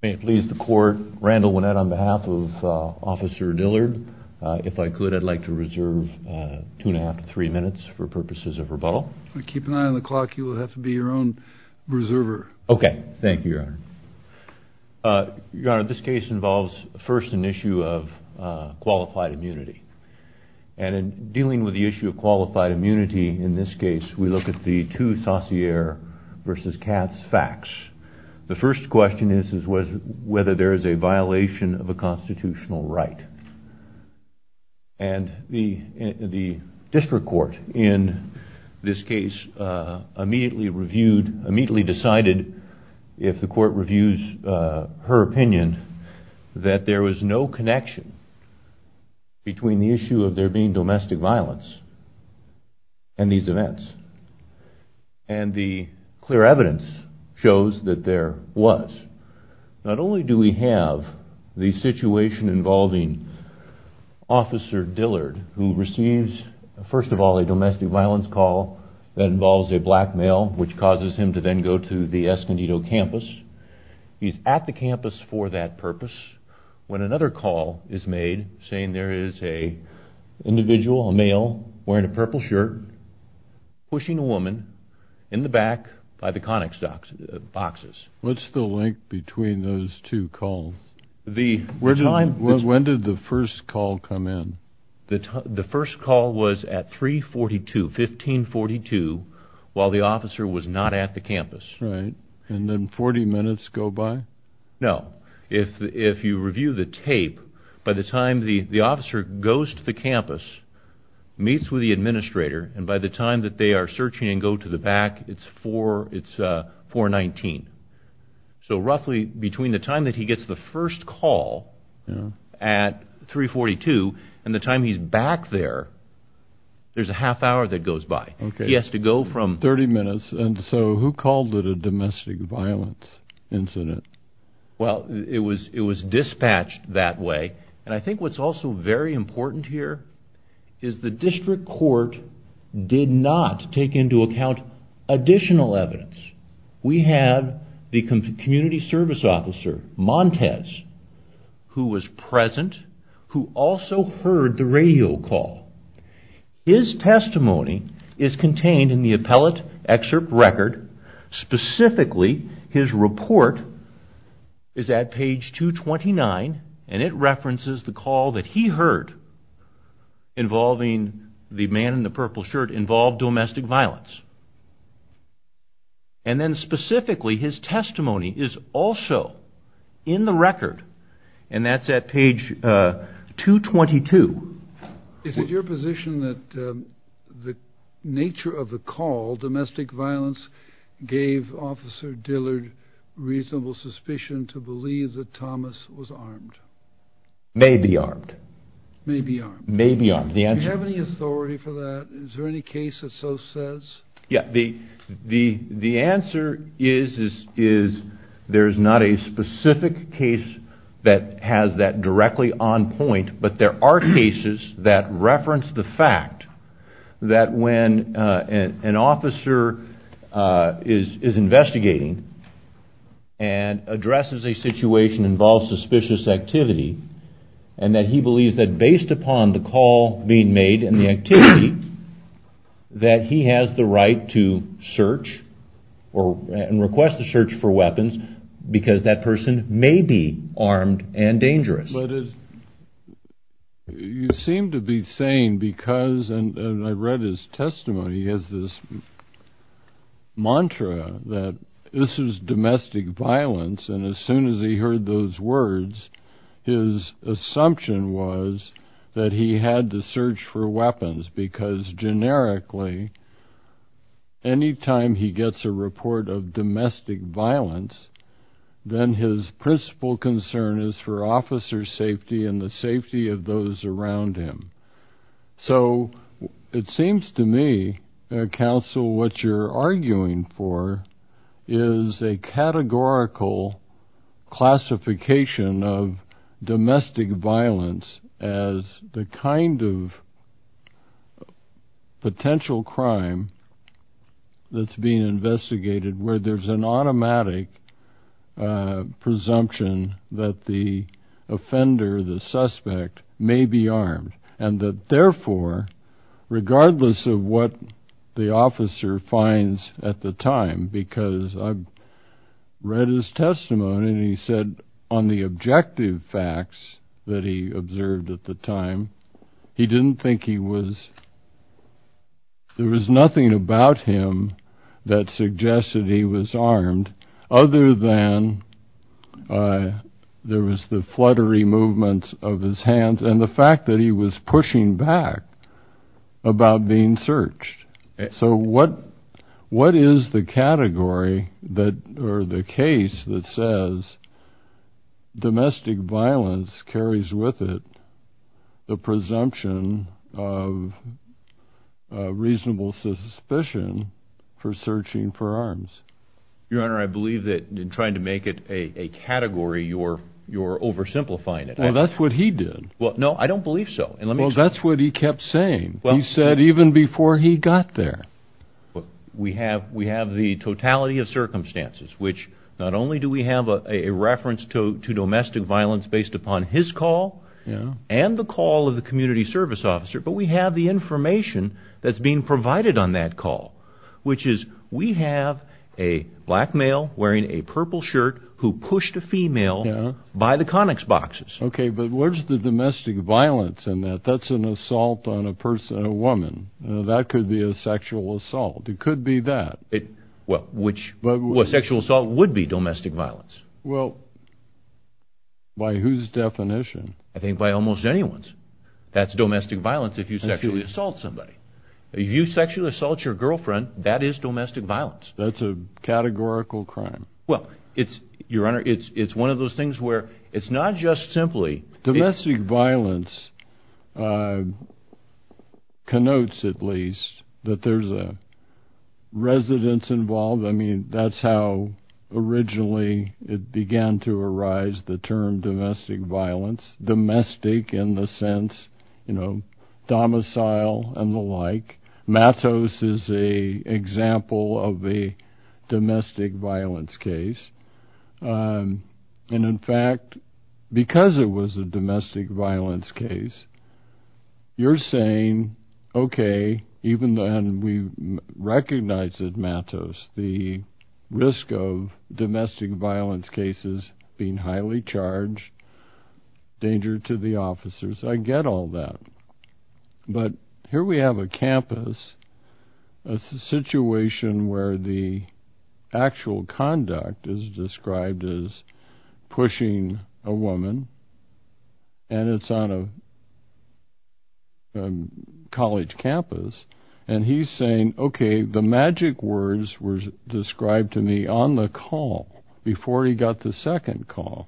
May it please the court, Randall Winnett on behalf of Officer Dillard. If I could, I'd like to reserve two and a half to three minutes for purposes of rebuttal. Keep an eye on the clock. You will have to be your own reserver. Okay. Thank you, Your Honor. Your Honor, this case involves first an issue of qualified immunity. And in dealing with the issue of qualified immunity in this case, we look at the two Saussure v. Katz facts. The first question is whether there is a violation of a constitutional right. And the district court in this case immediately reviewed, immediately decided, if the court reviews her opinion, that there was no connection between the issue of there being domestic violence and these events. And the clear evidence shows that there was. Not only do we have the situation involving Officer Dillard, who receives, first of all, a domestic violence call that involves a black male, which causes him to then go to the Escondido campus. He's at the campus for that purpose. When another call is made saying there is an individual, a male, wearing a purple shirt, pushing a woman in the back by the conic boxes. What's the link between those two calls? When did the first call come in? The first call was at 3.42, 15.42, while the officer was not at the campus. Right. And then the officer goes to the campus, meets with the administrator, and by the time that they are searching and go to the back, it's 4.19. So roughly between the time that he gets the first call at 3.42 and the time he's back there, there's a half hour that goes by. He has to go from... Thirty minutes. And so who called it a domestic violence incident? Well, it was dispatched that way. And I think what's also very important here is the district court did not take into account additional evidence. We have the community service officer, Montez, who was present, who also heard the radio call. His testimony is contained in the appellate excerpt record. Specifically, his report is at page 229, and it references the call that he heard involving the man in the purple shirt involved domestic violence. And then specifically, his testimony is also in the record, and that's at page 222. Is it your position that the nature of the call, domestic violence, gave Officer Dillard reasonable suspicion to believe that Thomas was armed? May be armed. May be armed. May be armed. The answer... Do you have any authority for that? Is there any case that so says? Yeah. The answer is there's not a specific case that has that directly on point, but there are cases that reference the fact that when an officer is investigating and addresses a situation involving suspicious activity, and that he believes that based upon the call being made and the activity, that he has the right to search and request a search for weapons because that person may be armed and dangerous. But you seem to be saying because, and I read his testimony, he has this mantra that this is domestic violence, and as soon as he heard those words, his assumption was that he had the search for weapons because generically, any time he gets a report of domestic violence, then his principal concern is for officer safety and the safety of those around him. So it seems to me, Counsel, what you're arguing for is a categorical classification of domestic violence as the kind of potential crime that's being investigated where there's an automatic presumption that the offender, the suspect, may be armed and that therefore, regardless of what the officer finds at the time, because I've read his testimony and he said on the objective facts that he observed at the time, he didn't think he was, there was nothing about him that suggested he was armed other than there was the fluttery movements of his hands and the fact that he was pushing back about being searched. So what is the category that, or the case that says domestic violence carries with it the presumption of reasonable suspicion for searching for arms? Your Honor, I believe that in trying to make it a category, you're oversimplifying it. Well, that's what he did. Well, no, I don't believe so. Well, that's what he kept saying. He said even before he got there. We have the totality of circumstances, which not only do we have a reference to domestic violence based upon his call and the call of the community service officer, but we have the information that's being provided on that call, which is we have a black male wearing a purple shirt who pushed a female by the conics boxes. Okay, but where's the domestic violence in that? That's an assault on a person, a woman. That could be a sexual assault. It could be that. Well, which sexual assault would be domestic violence? Well, by whose definition? I think by almost anyone's. That's domestic violence if you sexually assault somebody. If you sexually assault your girlfriend, that is domestic violence. That's a categorical crime. Well, it's, Your Honor, it's one of those things where it's not just simply... that there's a residence involved. I mean, that's how originally it began to arise, the term domestic violence, domestic in the sense, you know, domicile and the like. Matos is a example of a domestic violence case. And in fact, because it was a domestic violence case, you're saying, okay, even then we recognize that Matos, the risk of domestic violence cases being highly charged, danger to the officers, I get all that. But here we have a campus, a situation where the actual conduct is described as a college campus. And he's saying, okay, the magic words were described to me on the call before he got the second call.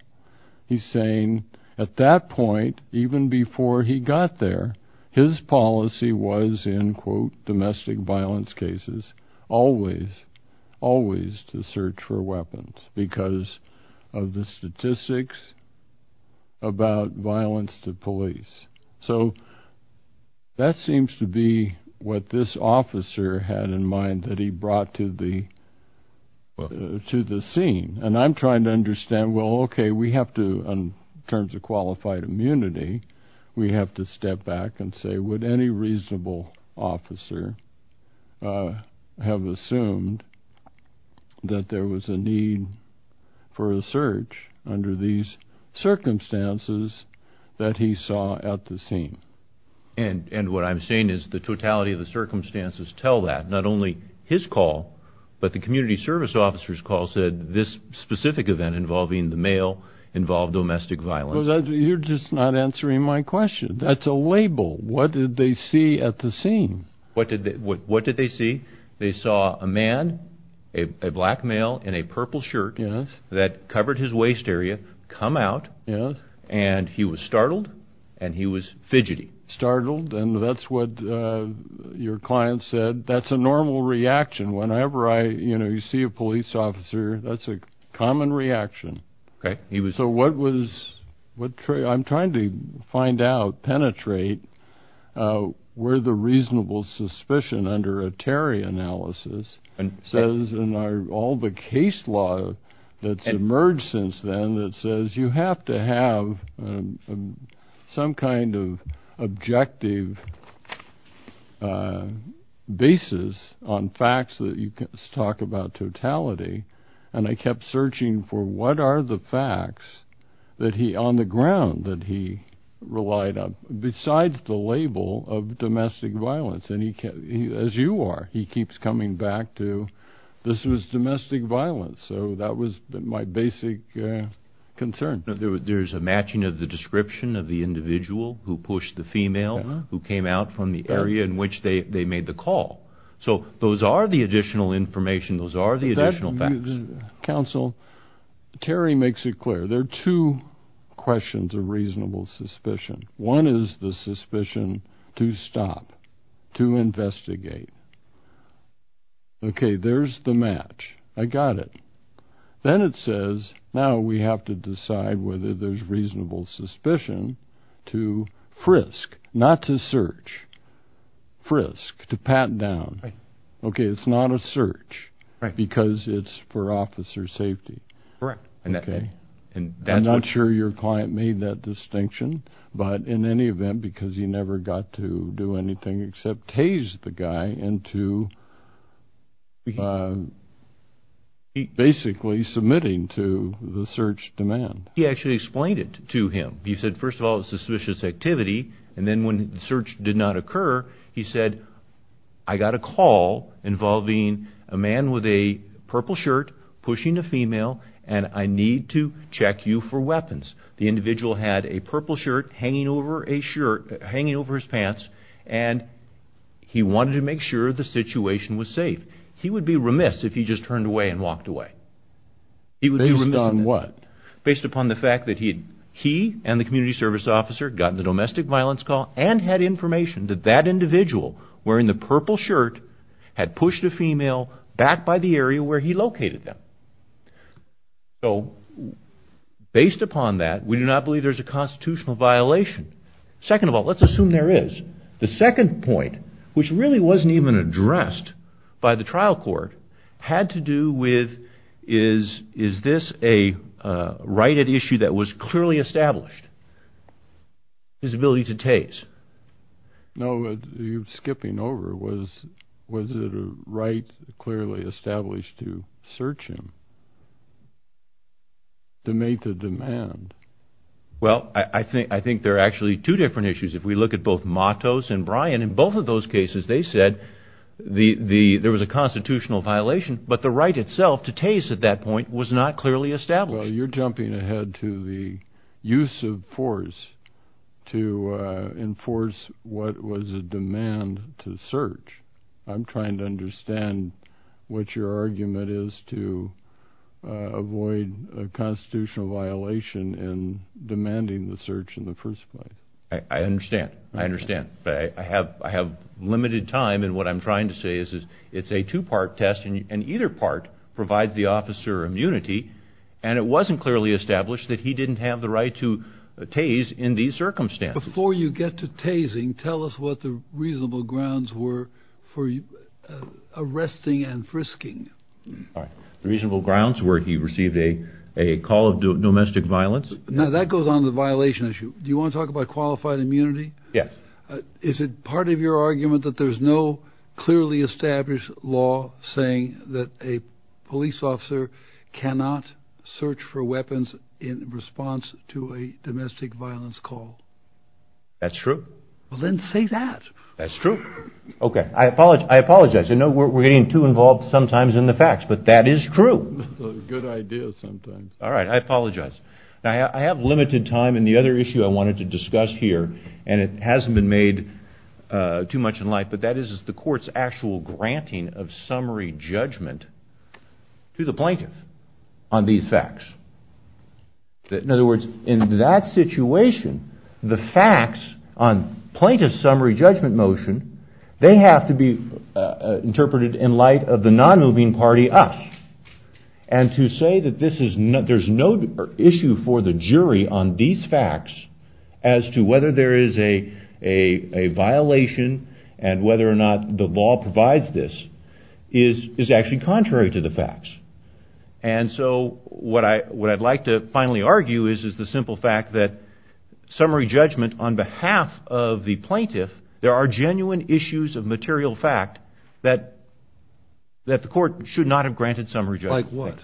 He's saying at that point, even before he got there, his policy was in, quote, domestic violence cases, always, always to search for weapons because of the statistics about violence to police. So that seems to be what this officer had in mind that he brought to the scene. And I'm trying to understand, well, okay, we have to, in terms of qualified immunity, we have to step back and say, would any reasonable officer have assumed that there was a need for a search under these circumstances that he saw at the scene? And what I'm saying is the totality of the circumstances tell that. Not only his call, but the community service officer's call said this specific event involving the male involved domestic violence. You're just not answering my question. That's a label. What did they see at the scene? What did they see? They saw a man, a black male in a purple shirt that covered his waist area, come out, and he was startled, and he was fidgety. Startled, and that's what your client said. That's a normal reaction. Whenever I, you know, you see a police officer, that's a common reaction. Where the reasonable suspicion under a Terry analysis says in our, all the case law that's emerged since then that says you have to have some kind of objective basis on facts that you can talk about totality. And I kept searching for what are the facts that he, on the ground that he relied on, besides the label of domestic violence. And he, as you are, he keeps coming back to this was domestic violence. So that was my basic concern. There's a matching of the description of the individual who pushed the female, who came out from the area in which they made the call. So those are the additional information. Those are the additional facts. Counsel, Terry makes it clear. There are two questions of reasonable suspicion. One is the suspicion to stop, to investigate. Okay, there's the match. I got it. Then it says, now we have to decide whether there's reasonable suspicion to frisk, not to search, frisk, to pat down. Okay, it's not a search, right? Because it's for officer safety. Correct. Okay, and I'm not sure your client made that distinction. But in any event, because he never got to do anything except tase the guy into basically submitting to the search demand. He actually explained it to him. He said, first of all, it's a suspicious activity. And then when the search did not occur, he said, I got a call involving a man with a purple shirt pushing a female. And I need to check you for weapons. The individual had a purple shirt hanging over a shirt, hanging over his pants. And he wanted to make sure the situation was safe. He would be remiss if he just turned away and walked away. He would be remiss on what? Based upon the fact that he and the community service officer got the domestic violence call and had information that that individual wearing the purple shirt had pushed a female back by the area where he located them. So based upon that, we do not believe there's a constitutional violation. Second of all, let's assume there is. The second point, which really wasn't even addressed by the trial court, had to do with is, is this a right at issue that was clearly established? His ability to tase. No, you skipping over was, was it a right clearly established to search him? To make the demand. Well, I think, I think there are actually two different issues. If we look at both Matos and Brian, in both of those cases, they said the, the, there was a constitutional violation, but the right itself to tase at that point was not clearly established. You're jumping ahead to the use of force to enforce what was a demand to search. I'm trying to understand what your argument is to avoid a constitutional violation in demanding the search in the first place. I understand. I understand. But I have, I have limited time. And what I'm trying to say is, is it's a two part test and either part provide the officer immunity. And it wasn't clearly established that he didn't have the right to tase in these circumstances. Before you get to tasing, tell us what the reasonable grounds were for arresting and frisking. All right. The reasonable grounds where he received a, a call of domestic violence. Now that goes on the violation issue. Do you want to talk about qualified immunity? Yes. Is it part of your argument that there's no clearly established law saying that a police officer cannot search for weapons in response to a domestic violence call? That's true. Well, then say that. That's true. Okay. I apologize. I apologize. I know we're getting too involved sometimes in the facts, but that is true. Good idea sometimes. All right. I apologize. Now, I have limited time. And the other issue I wanted to discuss here, and it hasn't been made too much in light, but that is, is the court's actual granting of summary judgment to the plaintiff on these facts. In other words, in that situation, the facts on plaintiff's summary judgment motion, they have to be interpreted in light of the non-moving party, us. And to say that this is not, there's no issue for the jury on these facts as to whether there is a, a, a violation and whether or not the law provides this is, is actually contrary to the facts. And so what I, what I'd like to finally argue is, is the simple fact that summary judgment on behalf of the plaintiff, there are genuine issues of material fact that, that the court should not have granted summary judgment. Like what?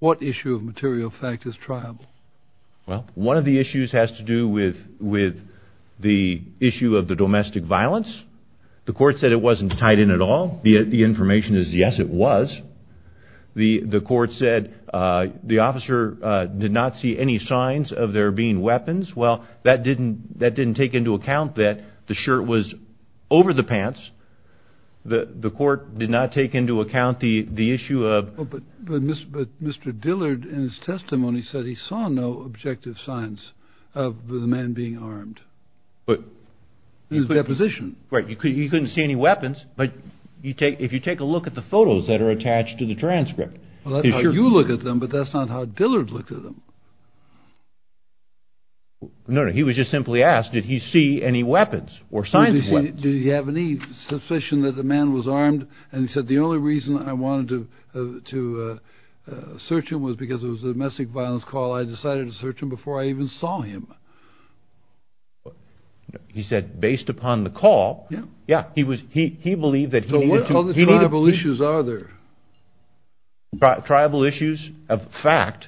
What issue of material fact is triable? Well, one of the issues has to do with, with the issue of the domestic violence. The court said it wasn't tied in at all. The information is, yes, it was. The, the court said, the officer did not see any signs of there being weapons. Well, that didn't, that didn't take into account that the shirt was over the pants. The, the court did not take into account the, the issue of. But Mr. Dillard in his testimony said he saw no objective signs of the man being armed. But. In his deposition. Right. You couldn't see any weapons, but you take, if you take a look at the photos that are attached to the transcript. Well, that's how you look at them, but that's not how Dillard looked at them. No, no, he was just simply asked, did he see any weapons or signs of weapons? Did he have any suspicion that the man was armed? And he said, the only reason I wanted to, to search him was because it was a domestic violence call. I decided to search him before I even saw him. He said, based upon the call. Yeah, he was, he, he believed that he needed to. What other tribal issues are there? Tribal issues of fact,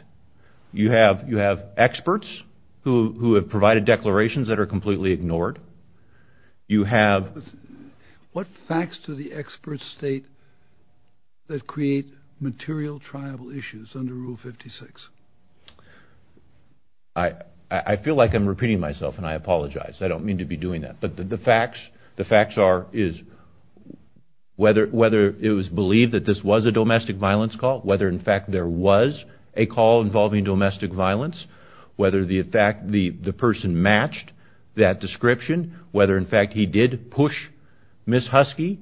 you have, you have experts who, who have provided declarations that are completely ignored. You have. What facts do the experts state that create material tribal issues under rule 56? I, I feel like I'm repeating myself and I apologize. I don't mean to be doing that, but the facts, the facts are, is whether, whether it was believed that this was a domestic violence call, whether in fact there was a call involving domestic violence, whether the fact the, the person matched that description, whether in fact he did push Ms. Husky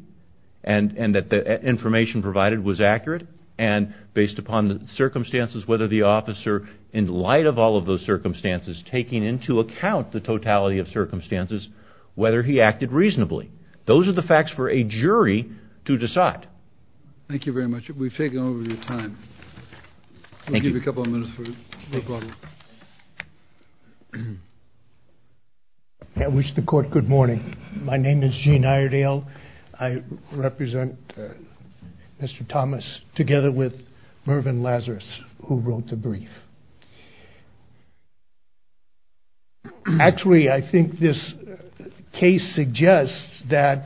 and, and that the information provided was accurate. And based upon the circumstances, whether the officer in light of all of those circumstances, taking into account the totality of circumstances, whether he acted reasonably, those are the facts for a jury to decide. Thank you very much. We've taken over your time. Thank you for a couple of minutes. I wish the court good morning. My name is Gene Iredale. I represent Mr. Thomas together with Mervyn Lazarus, who wrote the brief. Actually, I think this case suggests that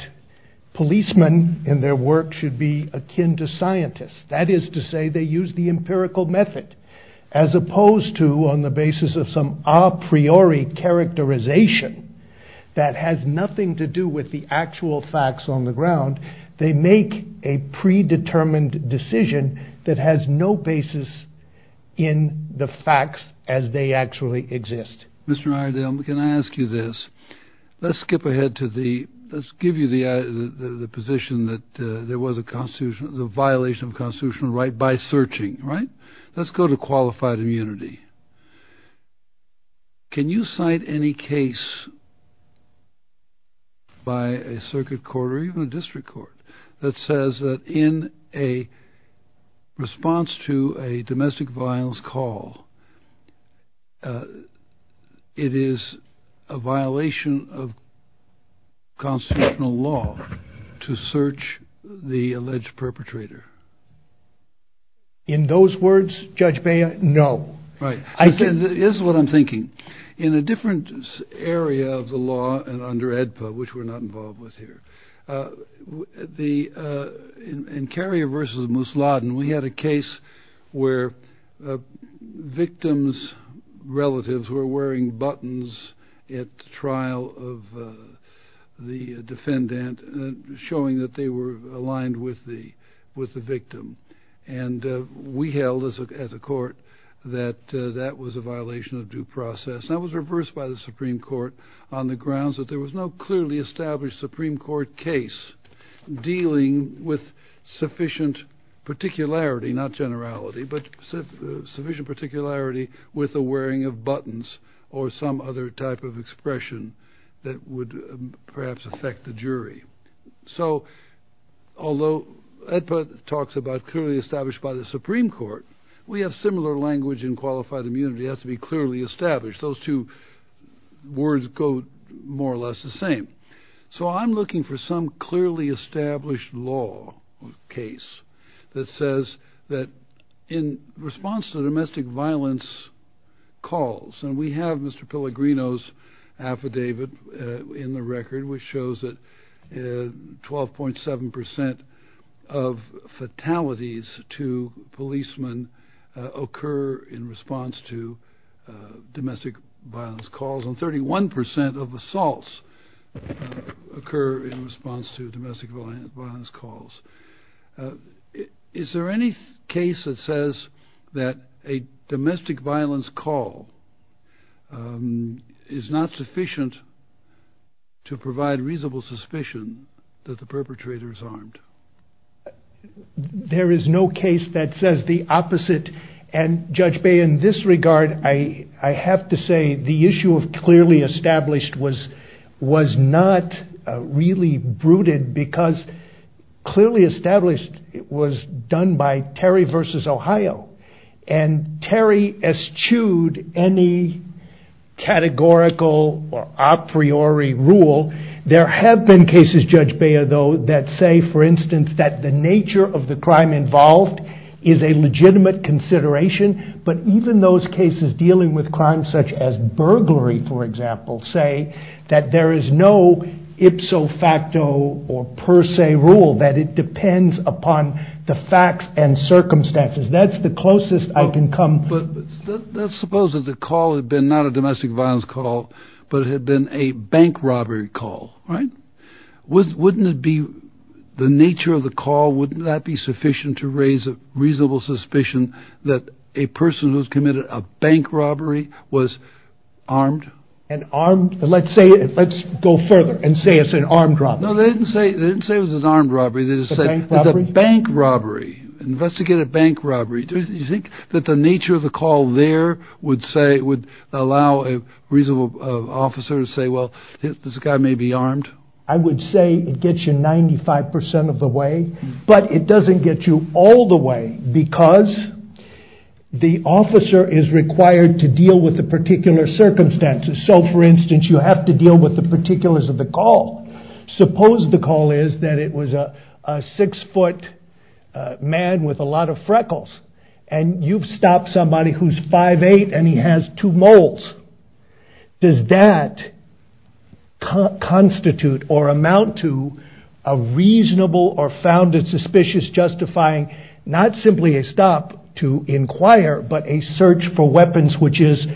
policemen in their work should be akin to scientists. That is to say they use the empirical method as opposed to on the basis of some a priori characterization that has nothing to do with the actual facts on the ground. They make a predetermined decision that has no basis in the facts as they actually exist. Mr. Iredale, can I ask you this? Let's skip ahead to the, let's give you the, the position that there was a constitution, the violation of constitutional right by searching, right? Let's go to qualified immunity. Can you cite any case by a circuit court or even a district court that says that in a response to a domestic violence call, it is a violation of constitutional law to search the alleged perpetrator? In those words, Judge Baya, no. Right. I said, this is what I'm thinking in a different area of the law and under ADPA, which we're not involved with here. The, uh, in, in carrier versus Mousladen, we had a case where, uh, victims relatives were wearing buttons at trial of, uh, the defendant, uh, showing that they were aligned with the, with the victim. And, uh, we held as a, as a court that, uh, that was a violation of due process. That was reversed by the Supreme court on the grounds that there was no clearly established Supreme court case dealing with sufficient particularity, not generality, but sufficient particularity with a wearing of buttons or some other type of expression that would perhaps affect the jury. So although ADPA talks about clearly established by the Supreme court, we have similar language in qualified immunity has to be clearly established. Those two words go more or less the same. So I'm looking for some clearly established law case that says that in response to domestic violence calls, and we have Mr. Pellegrino's affidavit, uh, in the record, which shows that, uh, 12.7% of fatalities to policemen, uh, occur in response to, uh, domestic violence calls and 31% of assaults occur in response to domestic violence calls. Uh, is there any case that says that a domestic violence call, um, is not sufficient to provide reasonable suspicion that the perpetrator is armed? There is no case that says the opposite and judge Bay in this regard, I, I have to say the issue of clearly established was, was not really brooded because clearly established was done by Terry versus Ohio and Terry eschewed any categorical or a priori rule. There have been cases judge Bayer though, that say, for instance, that the nature of the crime involved is a legitimate consideration. But even those cases dealing with crimes such as burglary, for example, say that there is no ipso facto or per se rule that it depends upon the facts and circumstances. That's the closest I can come. But let's suppose that the call had been not a domestic violence call, but it had been a bank robbery call, right? Wouldn't it be the nature of the call? Wouldn't that be sufficient to raise a reasonable suspicion that a person who's committed a bank robbery was armed and armed? And let's say, let's go further and say it's an armed robbery. No, they didn't say, they didn't say it was an armed robbery. They just say it was a bank robbery. Investigate a bank robbery. You think that the nature of the call there would say it would allow a reasonable officer to say, well, this guy may be armed. I would say it gets you 95% of the way, but it doesn't get you all the way because the officer is required to deal with the particular circumstances. So for instance, you have to deal with the particulars of the call. Suppose the call is that it was a six foot man with a lot of freckles and you've stopped somebody who's 5'8 and he has two moles. Does that constitute or amount to a reasonable or found it suspicious justifying, not simply a stop to inquire, but a search for weapons, which is,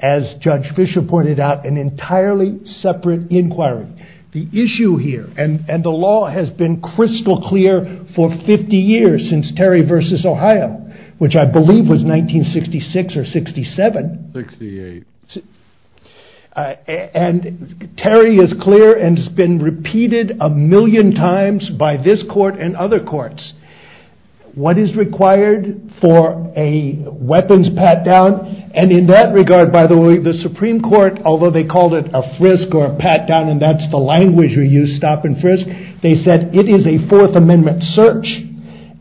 as Judge Fischer pointed out, an entirely separate inquiry. The issue here, and the law has been crystal clear for 50 years since Terry versus Ohio, which I believe was 1966 or 67. 68. And Terry is clear and has been repeated a million times by this court and other courts. What is required for a weapons pat down? And in that regard, by the way, the Supreme Court, although they called it a frisk or pat down, and that's the language we use, stop and frisk. They said it is a fourth amendment search.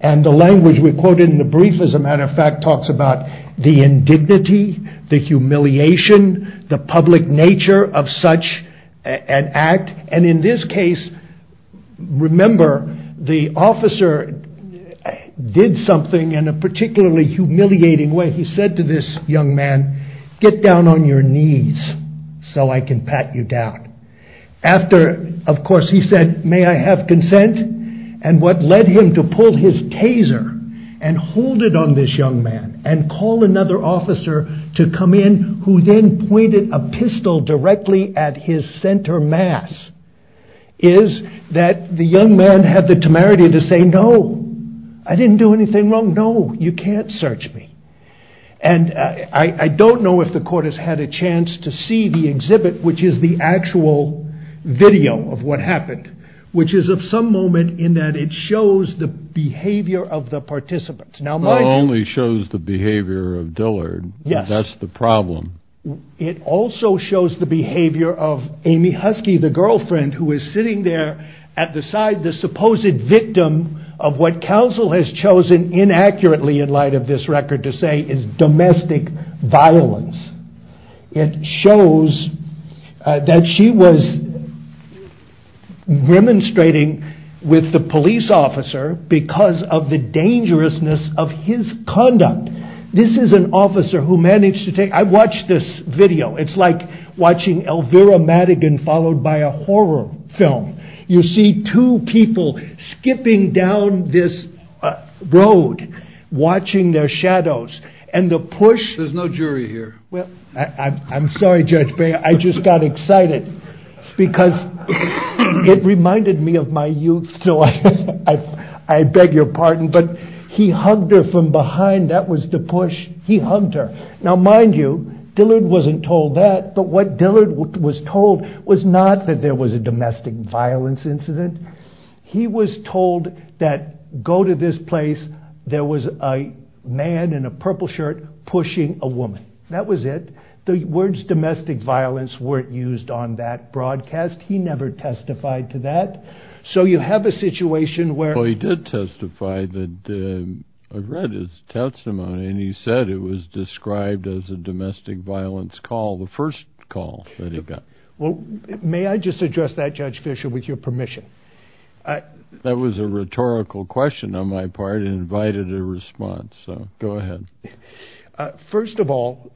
And the language we quoted in the brief, as a matter of fact, talks about the indignity, the humiliation, the public nature of such an act. And in this case, remember, the officer did something in a particularly humiliating way. He said to this young man, get down on your knees so I can pat you down. After, of course, he said, may I have consent? And what led him to pull his taser and hold it on this young man and call another officer to come in, who then pointed a pistol directly at his center mass, is that the young man had the temerity to say, no, I didn't do anything wrong. No, you can't search me. And I don't know if the court has had a chance to see the exhibit, which is the actual video of what happened, which is of some moment in that it shows the behavior of the participants. Now, it only shows the behavior of Dillard. That's the problem. It also shows the behavior of Amy Husky, the girlfriend who is sitting there at the side, the supposed victim of what counsel has chosen inaccurately in light of this record to say is domestic violence. It shows that she was demonstrating with the police officer because of the dangerousness of his conduct. This is an officer who managed to take I watched this video. It's like watching Elvira Madigan followed by a horror film. You see two people skipping down this road watching their shadows and the push. There's no jury here. I'm sorry, Judge, but I just got excited because it reminded me of my youth. So I beg your pardon. But he hugged her from behind. That was the push. He hugged her. Now, mind you, Dillard wasn't told that. But what Dillard was told was not that there was a domestic violence incident. He was told that go to this place. There was a man in a purple shirt pushing a woman. That was it. The words domestic violence weren't used on that broadcast. He never testified to that. So you have a situation where he did testify that I've read his testimony and he said it was described as a domestic violence call. The first call that he got. Well, may I just address that, Judge Fisher, with your permission? That was a rhetorical question on my part and invited a response. So go ahead. First of all,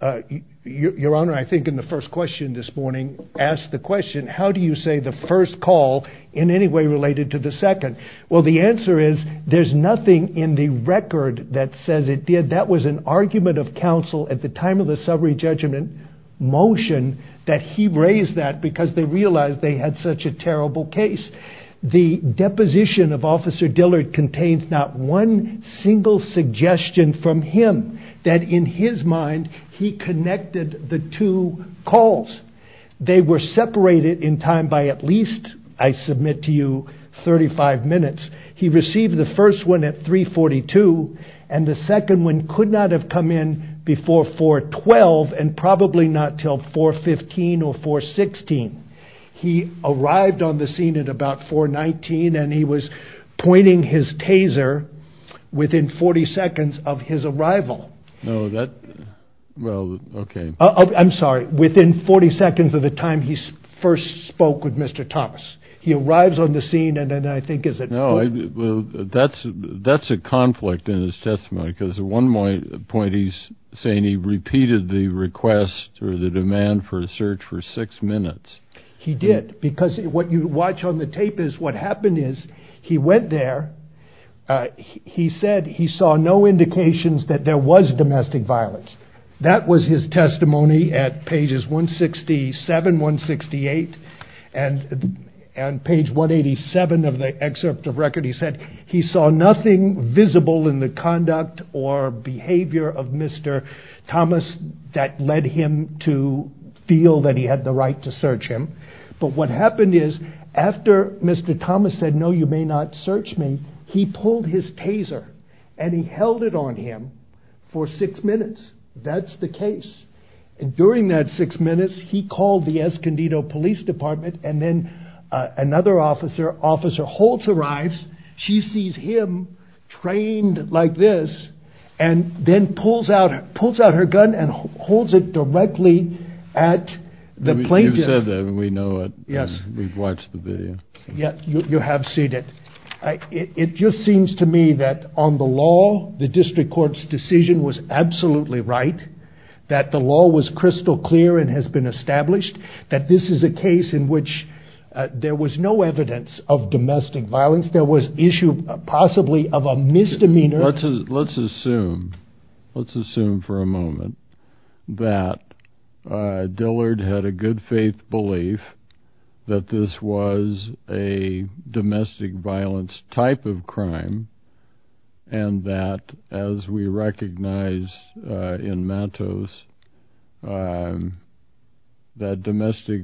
your honor, I think in the first question this morning asked the question, how do you say the first call in any way related to the second? Well, the answer is there's nothing in the record that says it did. That was an argument of counsel at the time of the summary judgment motion that he raised that because they realized they had such a terrible case. The deposition of Officer Dillard contains not one single suggestion from him that in his mind he connected the two calls. They were separated in time by at least, I submit to you, 35 minutes. He received the first one at 342 and the second one could not have come in before 412 and probably not till 415 or 416. He arrived on the scene at about 419 and he was pointing his taser within 40 seconds of his arrival. No, that. Well, OK. I'm sorry. Within 40 seconds of the time he first spoke with Mr. Thomas. He arrives on the scene and then I think is it. No, that's a conflict in his testimony because at one point he's saying he repeated the request or the demand for a search for six minutes. He did because what you watch on the tape is what happened is he went there. He said he saw no indications that there was domestic violence. That was his testimony at pages 167, 168 and page 187 of the excerpt of record. He said he saw nothing visible in the conduct or behavior of Mr. Thomas that led him to feel that he had the right to search him. But what happened is after Mr. Thomas said, no, you may not search me. He pulled his taser and he held it on him for six minutes. That's the case. During that six minutes, he called the Escondido Police Department and then another officer, Officer Holtz arrives. She sees him trained like this and then pulls out her gun and holds it directly at the plaintiff. You've said that and we know it. Yes. We've watched the video. Yeah, you have seen it. It just seems to me that on the law, the district court's decision was absolutely right. That the law was crystal clear and has been established. That this is a case in which there was no evidence of domestic violence. There was issue possibly of a misdemeanor. Let's assume, let's assume for a moment that Dillard had a good faith belief that this was a domestic violence type of crime. And that as we recognize in Matos, that domestic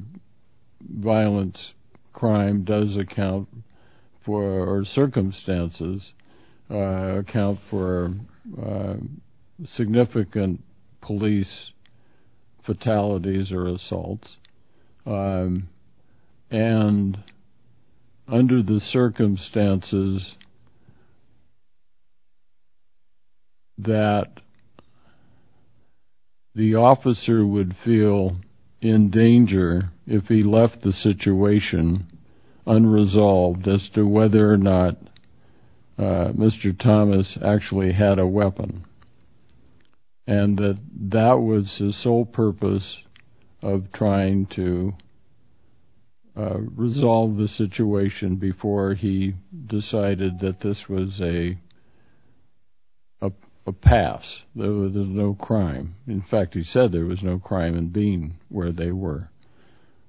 violence crime does account for circumstances, account for significant police fatalities or assaults. And under the circumstances that the officer would feel in danger if he left the situation unresolved as to whether or not Mr. Thomas actually had a weapon. And that that was his sole purpose of trying to resolve the situation before he decided that this was a pass, there was no crime. In fact, he said there was no crime in being where they were.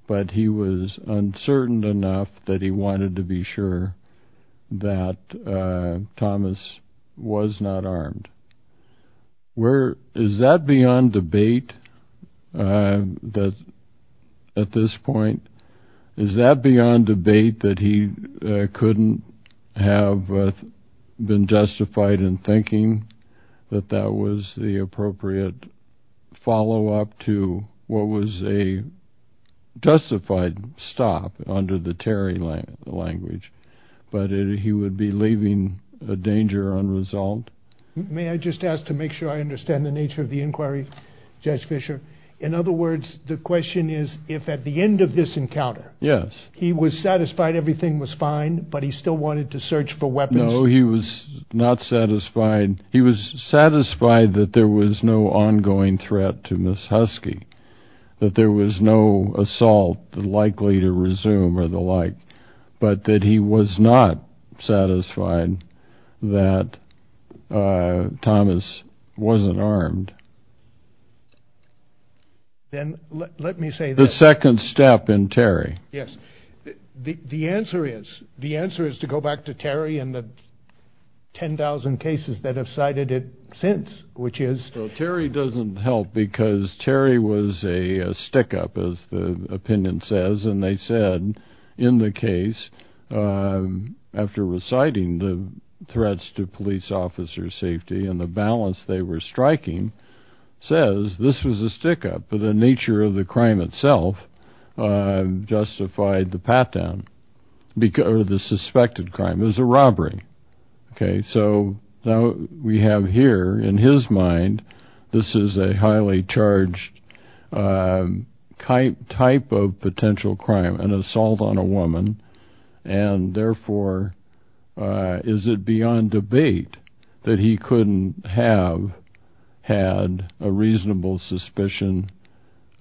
But he was uncertain enough that he wanted to be sure that Thomas was not armed. Where, is that beyond debate that at this point? Is that beyond debate that he couldn't have been justified in thinking that that was the appropriate follow-up to what was a justified stop under the Terry language? But he would be leaving a danger unresolved? May I just ask to make sure I understand the nature of the inquiry? Judge Fisher. In other words, the question is, if at the end of this encounter. Yes. He was satisfied everything was fine, but he still wanted to search for weapons. No, he was not satisfied. He was satisfied that there was no ongoing threat to Miss Husky. That there was no assault likely to resume or the like. But that he was not satisfied that Thomas wasn't armed. Then let me say. The second step in Terry. Yes, the answer is, the answer is to go back to Terry and the 10,000 cases that have cited it since, which is. So Terry doesn't help because Terry was a stick up, as the opinion says. And they said in the case after reciting the threats to police officers safety and the balance they were striking says this was a stick up for the nature of the crime itself. Justified the pat down because of the suspected crime is a robbery. OK, so now we have here in his mind, this is a highly charged type type of potential crime, an assault on a woman. And therefore, is it beyond debate that he couldn't have had a reasonable suspicion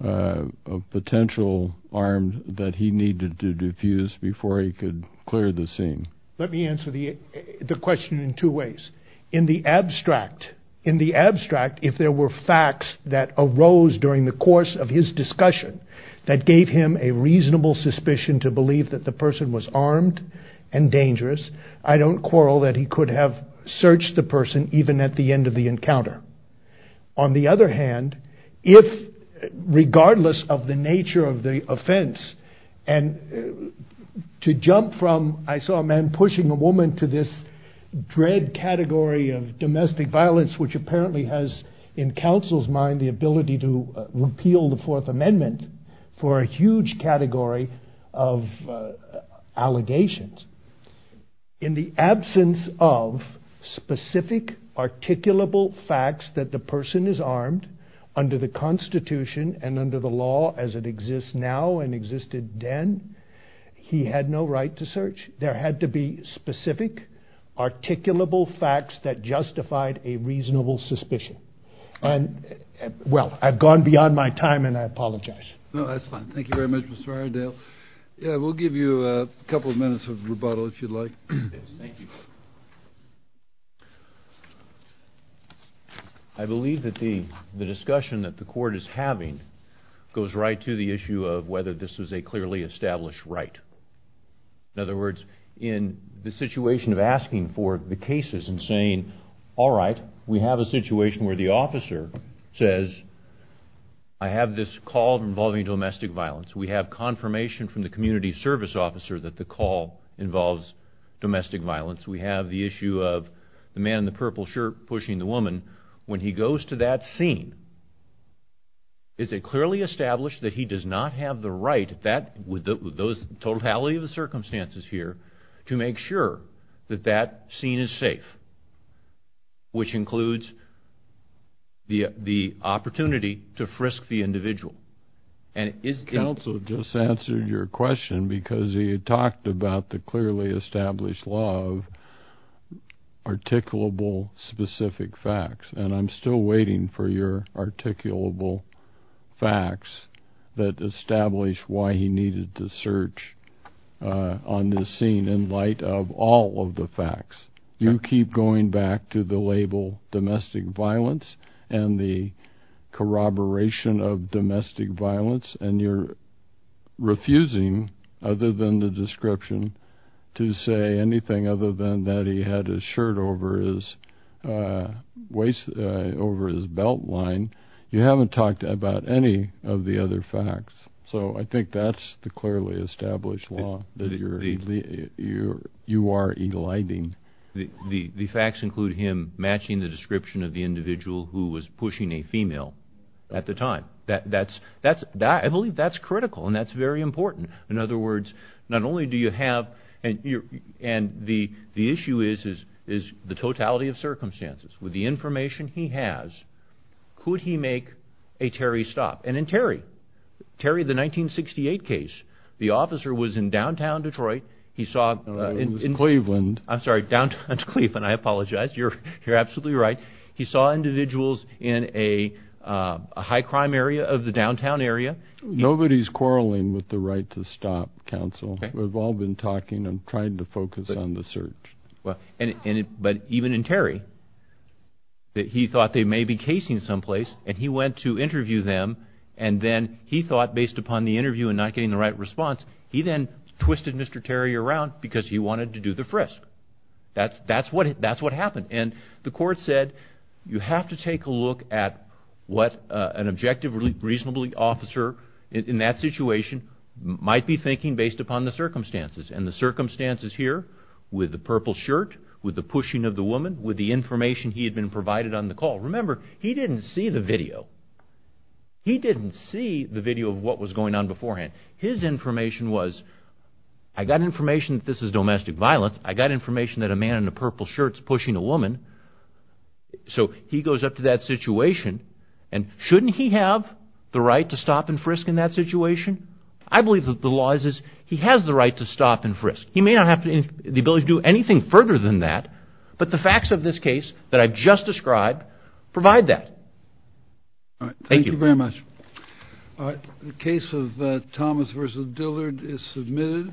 of potential armed that he needed to defuse before he could clear the scene? Let me answer the question in two ways. In the abstract, in the abstract, if there were facts that arose during the course of his discussion that gave him a reasonable suspicion to believe that the person was armed and dangerous, I don't quarrel that he could have searched the person even at the end of the encounter. On the other hand, if regardless of the nature of the offense and to jump from, I saw a man pushing a woman to this dread category of domestic violence, which apparently has in counsel's mind the ability to repeal the Fourth Amendment for a huge category of allegations. In the absence of specific articulable facts that the person is armed under the Constitution and under the law as it exists now and existed then, he had no right to search. There had to be specific articulable facts that justified a reasonable suspicion. And well, I've gone beyond my time and I apologize. No, that's fine. Thank you very much, Mr. Rydell. Yeah, we'll give you a couple of minutes of rebuttal if you'd like. Yes, thank you. I believe that the discussion that the court is having goes right to the issue of whether this is a clearly established right. In other words, in the situation of asking for the cases and saying, all right, we have a situation where the officer says, I have this call involving domestic violence. We have confirmation from the community service officer that the call involves domestic violence. We have the issue of the man in the purple shirt pushing the woman. When he goes to that scene, is it clearly established that he does not have the right with the totality of the circumstances here to make sure that that scene is safe, which includes the opportunity to frisk the individual? Counsel just answered your question because he had talked about the clearly established law of articulable specific facts. I'm still waiting for your articulable facts that establish why he needed to search on this scene in light of all of the facts. You keep going back to the label domestic violence and the corroboration of domestic violence and you're refusing, other than the description, to say anything other than that he had a shirt over his belt line. You haven't talked about any of the other facts. So I think that's the clearly established law that you are eliding. The facts include him matching the description of the individual who was pushing a female at the time. I believe that's critical and that's very important. In other words, the issue is the totality of circumstances. With the information he has, could he make a Terry stop? And in Terry, the 1968 case, the officer was in downtown Detroit. I'm sorry, downtown Cleveland. I apologize. You're absolutely right. He saw individuals in a high crime area of the downtown area. Nobody's quarreling with the right to stop, counsel. We've all been talking. I'm trying to focus on the search. But even in Terry, he thought they may be casing someplace and he went to interview them and then he thought, based upon the interview and not getting the right response, he then twisted Mr. Terry around because he wanted to do the frisk. That's what happened. The court said you have to take a look at what an objective, reasonable officer in that situation might be thinking based upon the circumstances and the circumstances here with the purple shirt, with the pushing of the woman, with the information he had been provided on the call. Remember, he didn't see the video. He didn't see the video of what was going on beforehand. His information was, I got information that this is domestic violence. I got information that a man in a purple shirt is pushing a woman. So he goes up to that situation and shouldn't he have the right to stop and frisk in that situation? I believe that the law is he has the right to stop and frisk. He may not have the ability to do anything further than that. But the facts of this case that I've just described provide that. All right. Thank you very much. All right. The case of Thomas versus Dillard is submitted.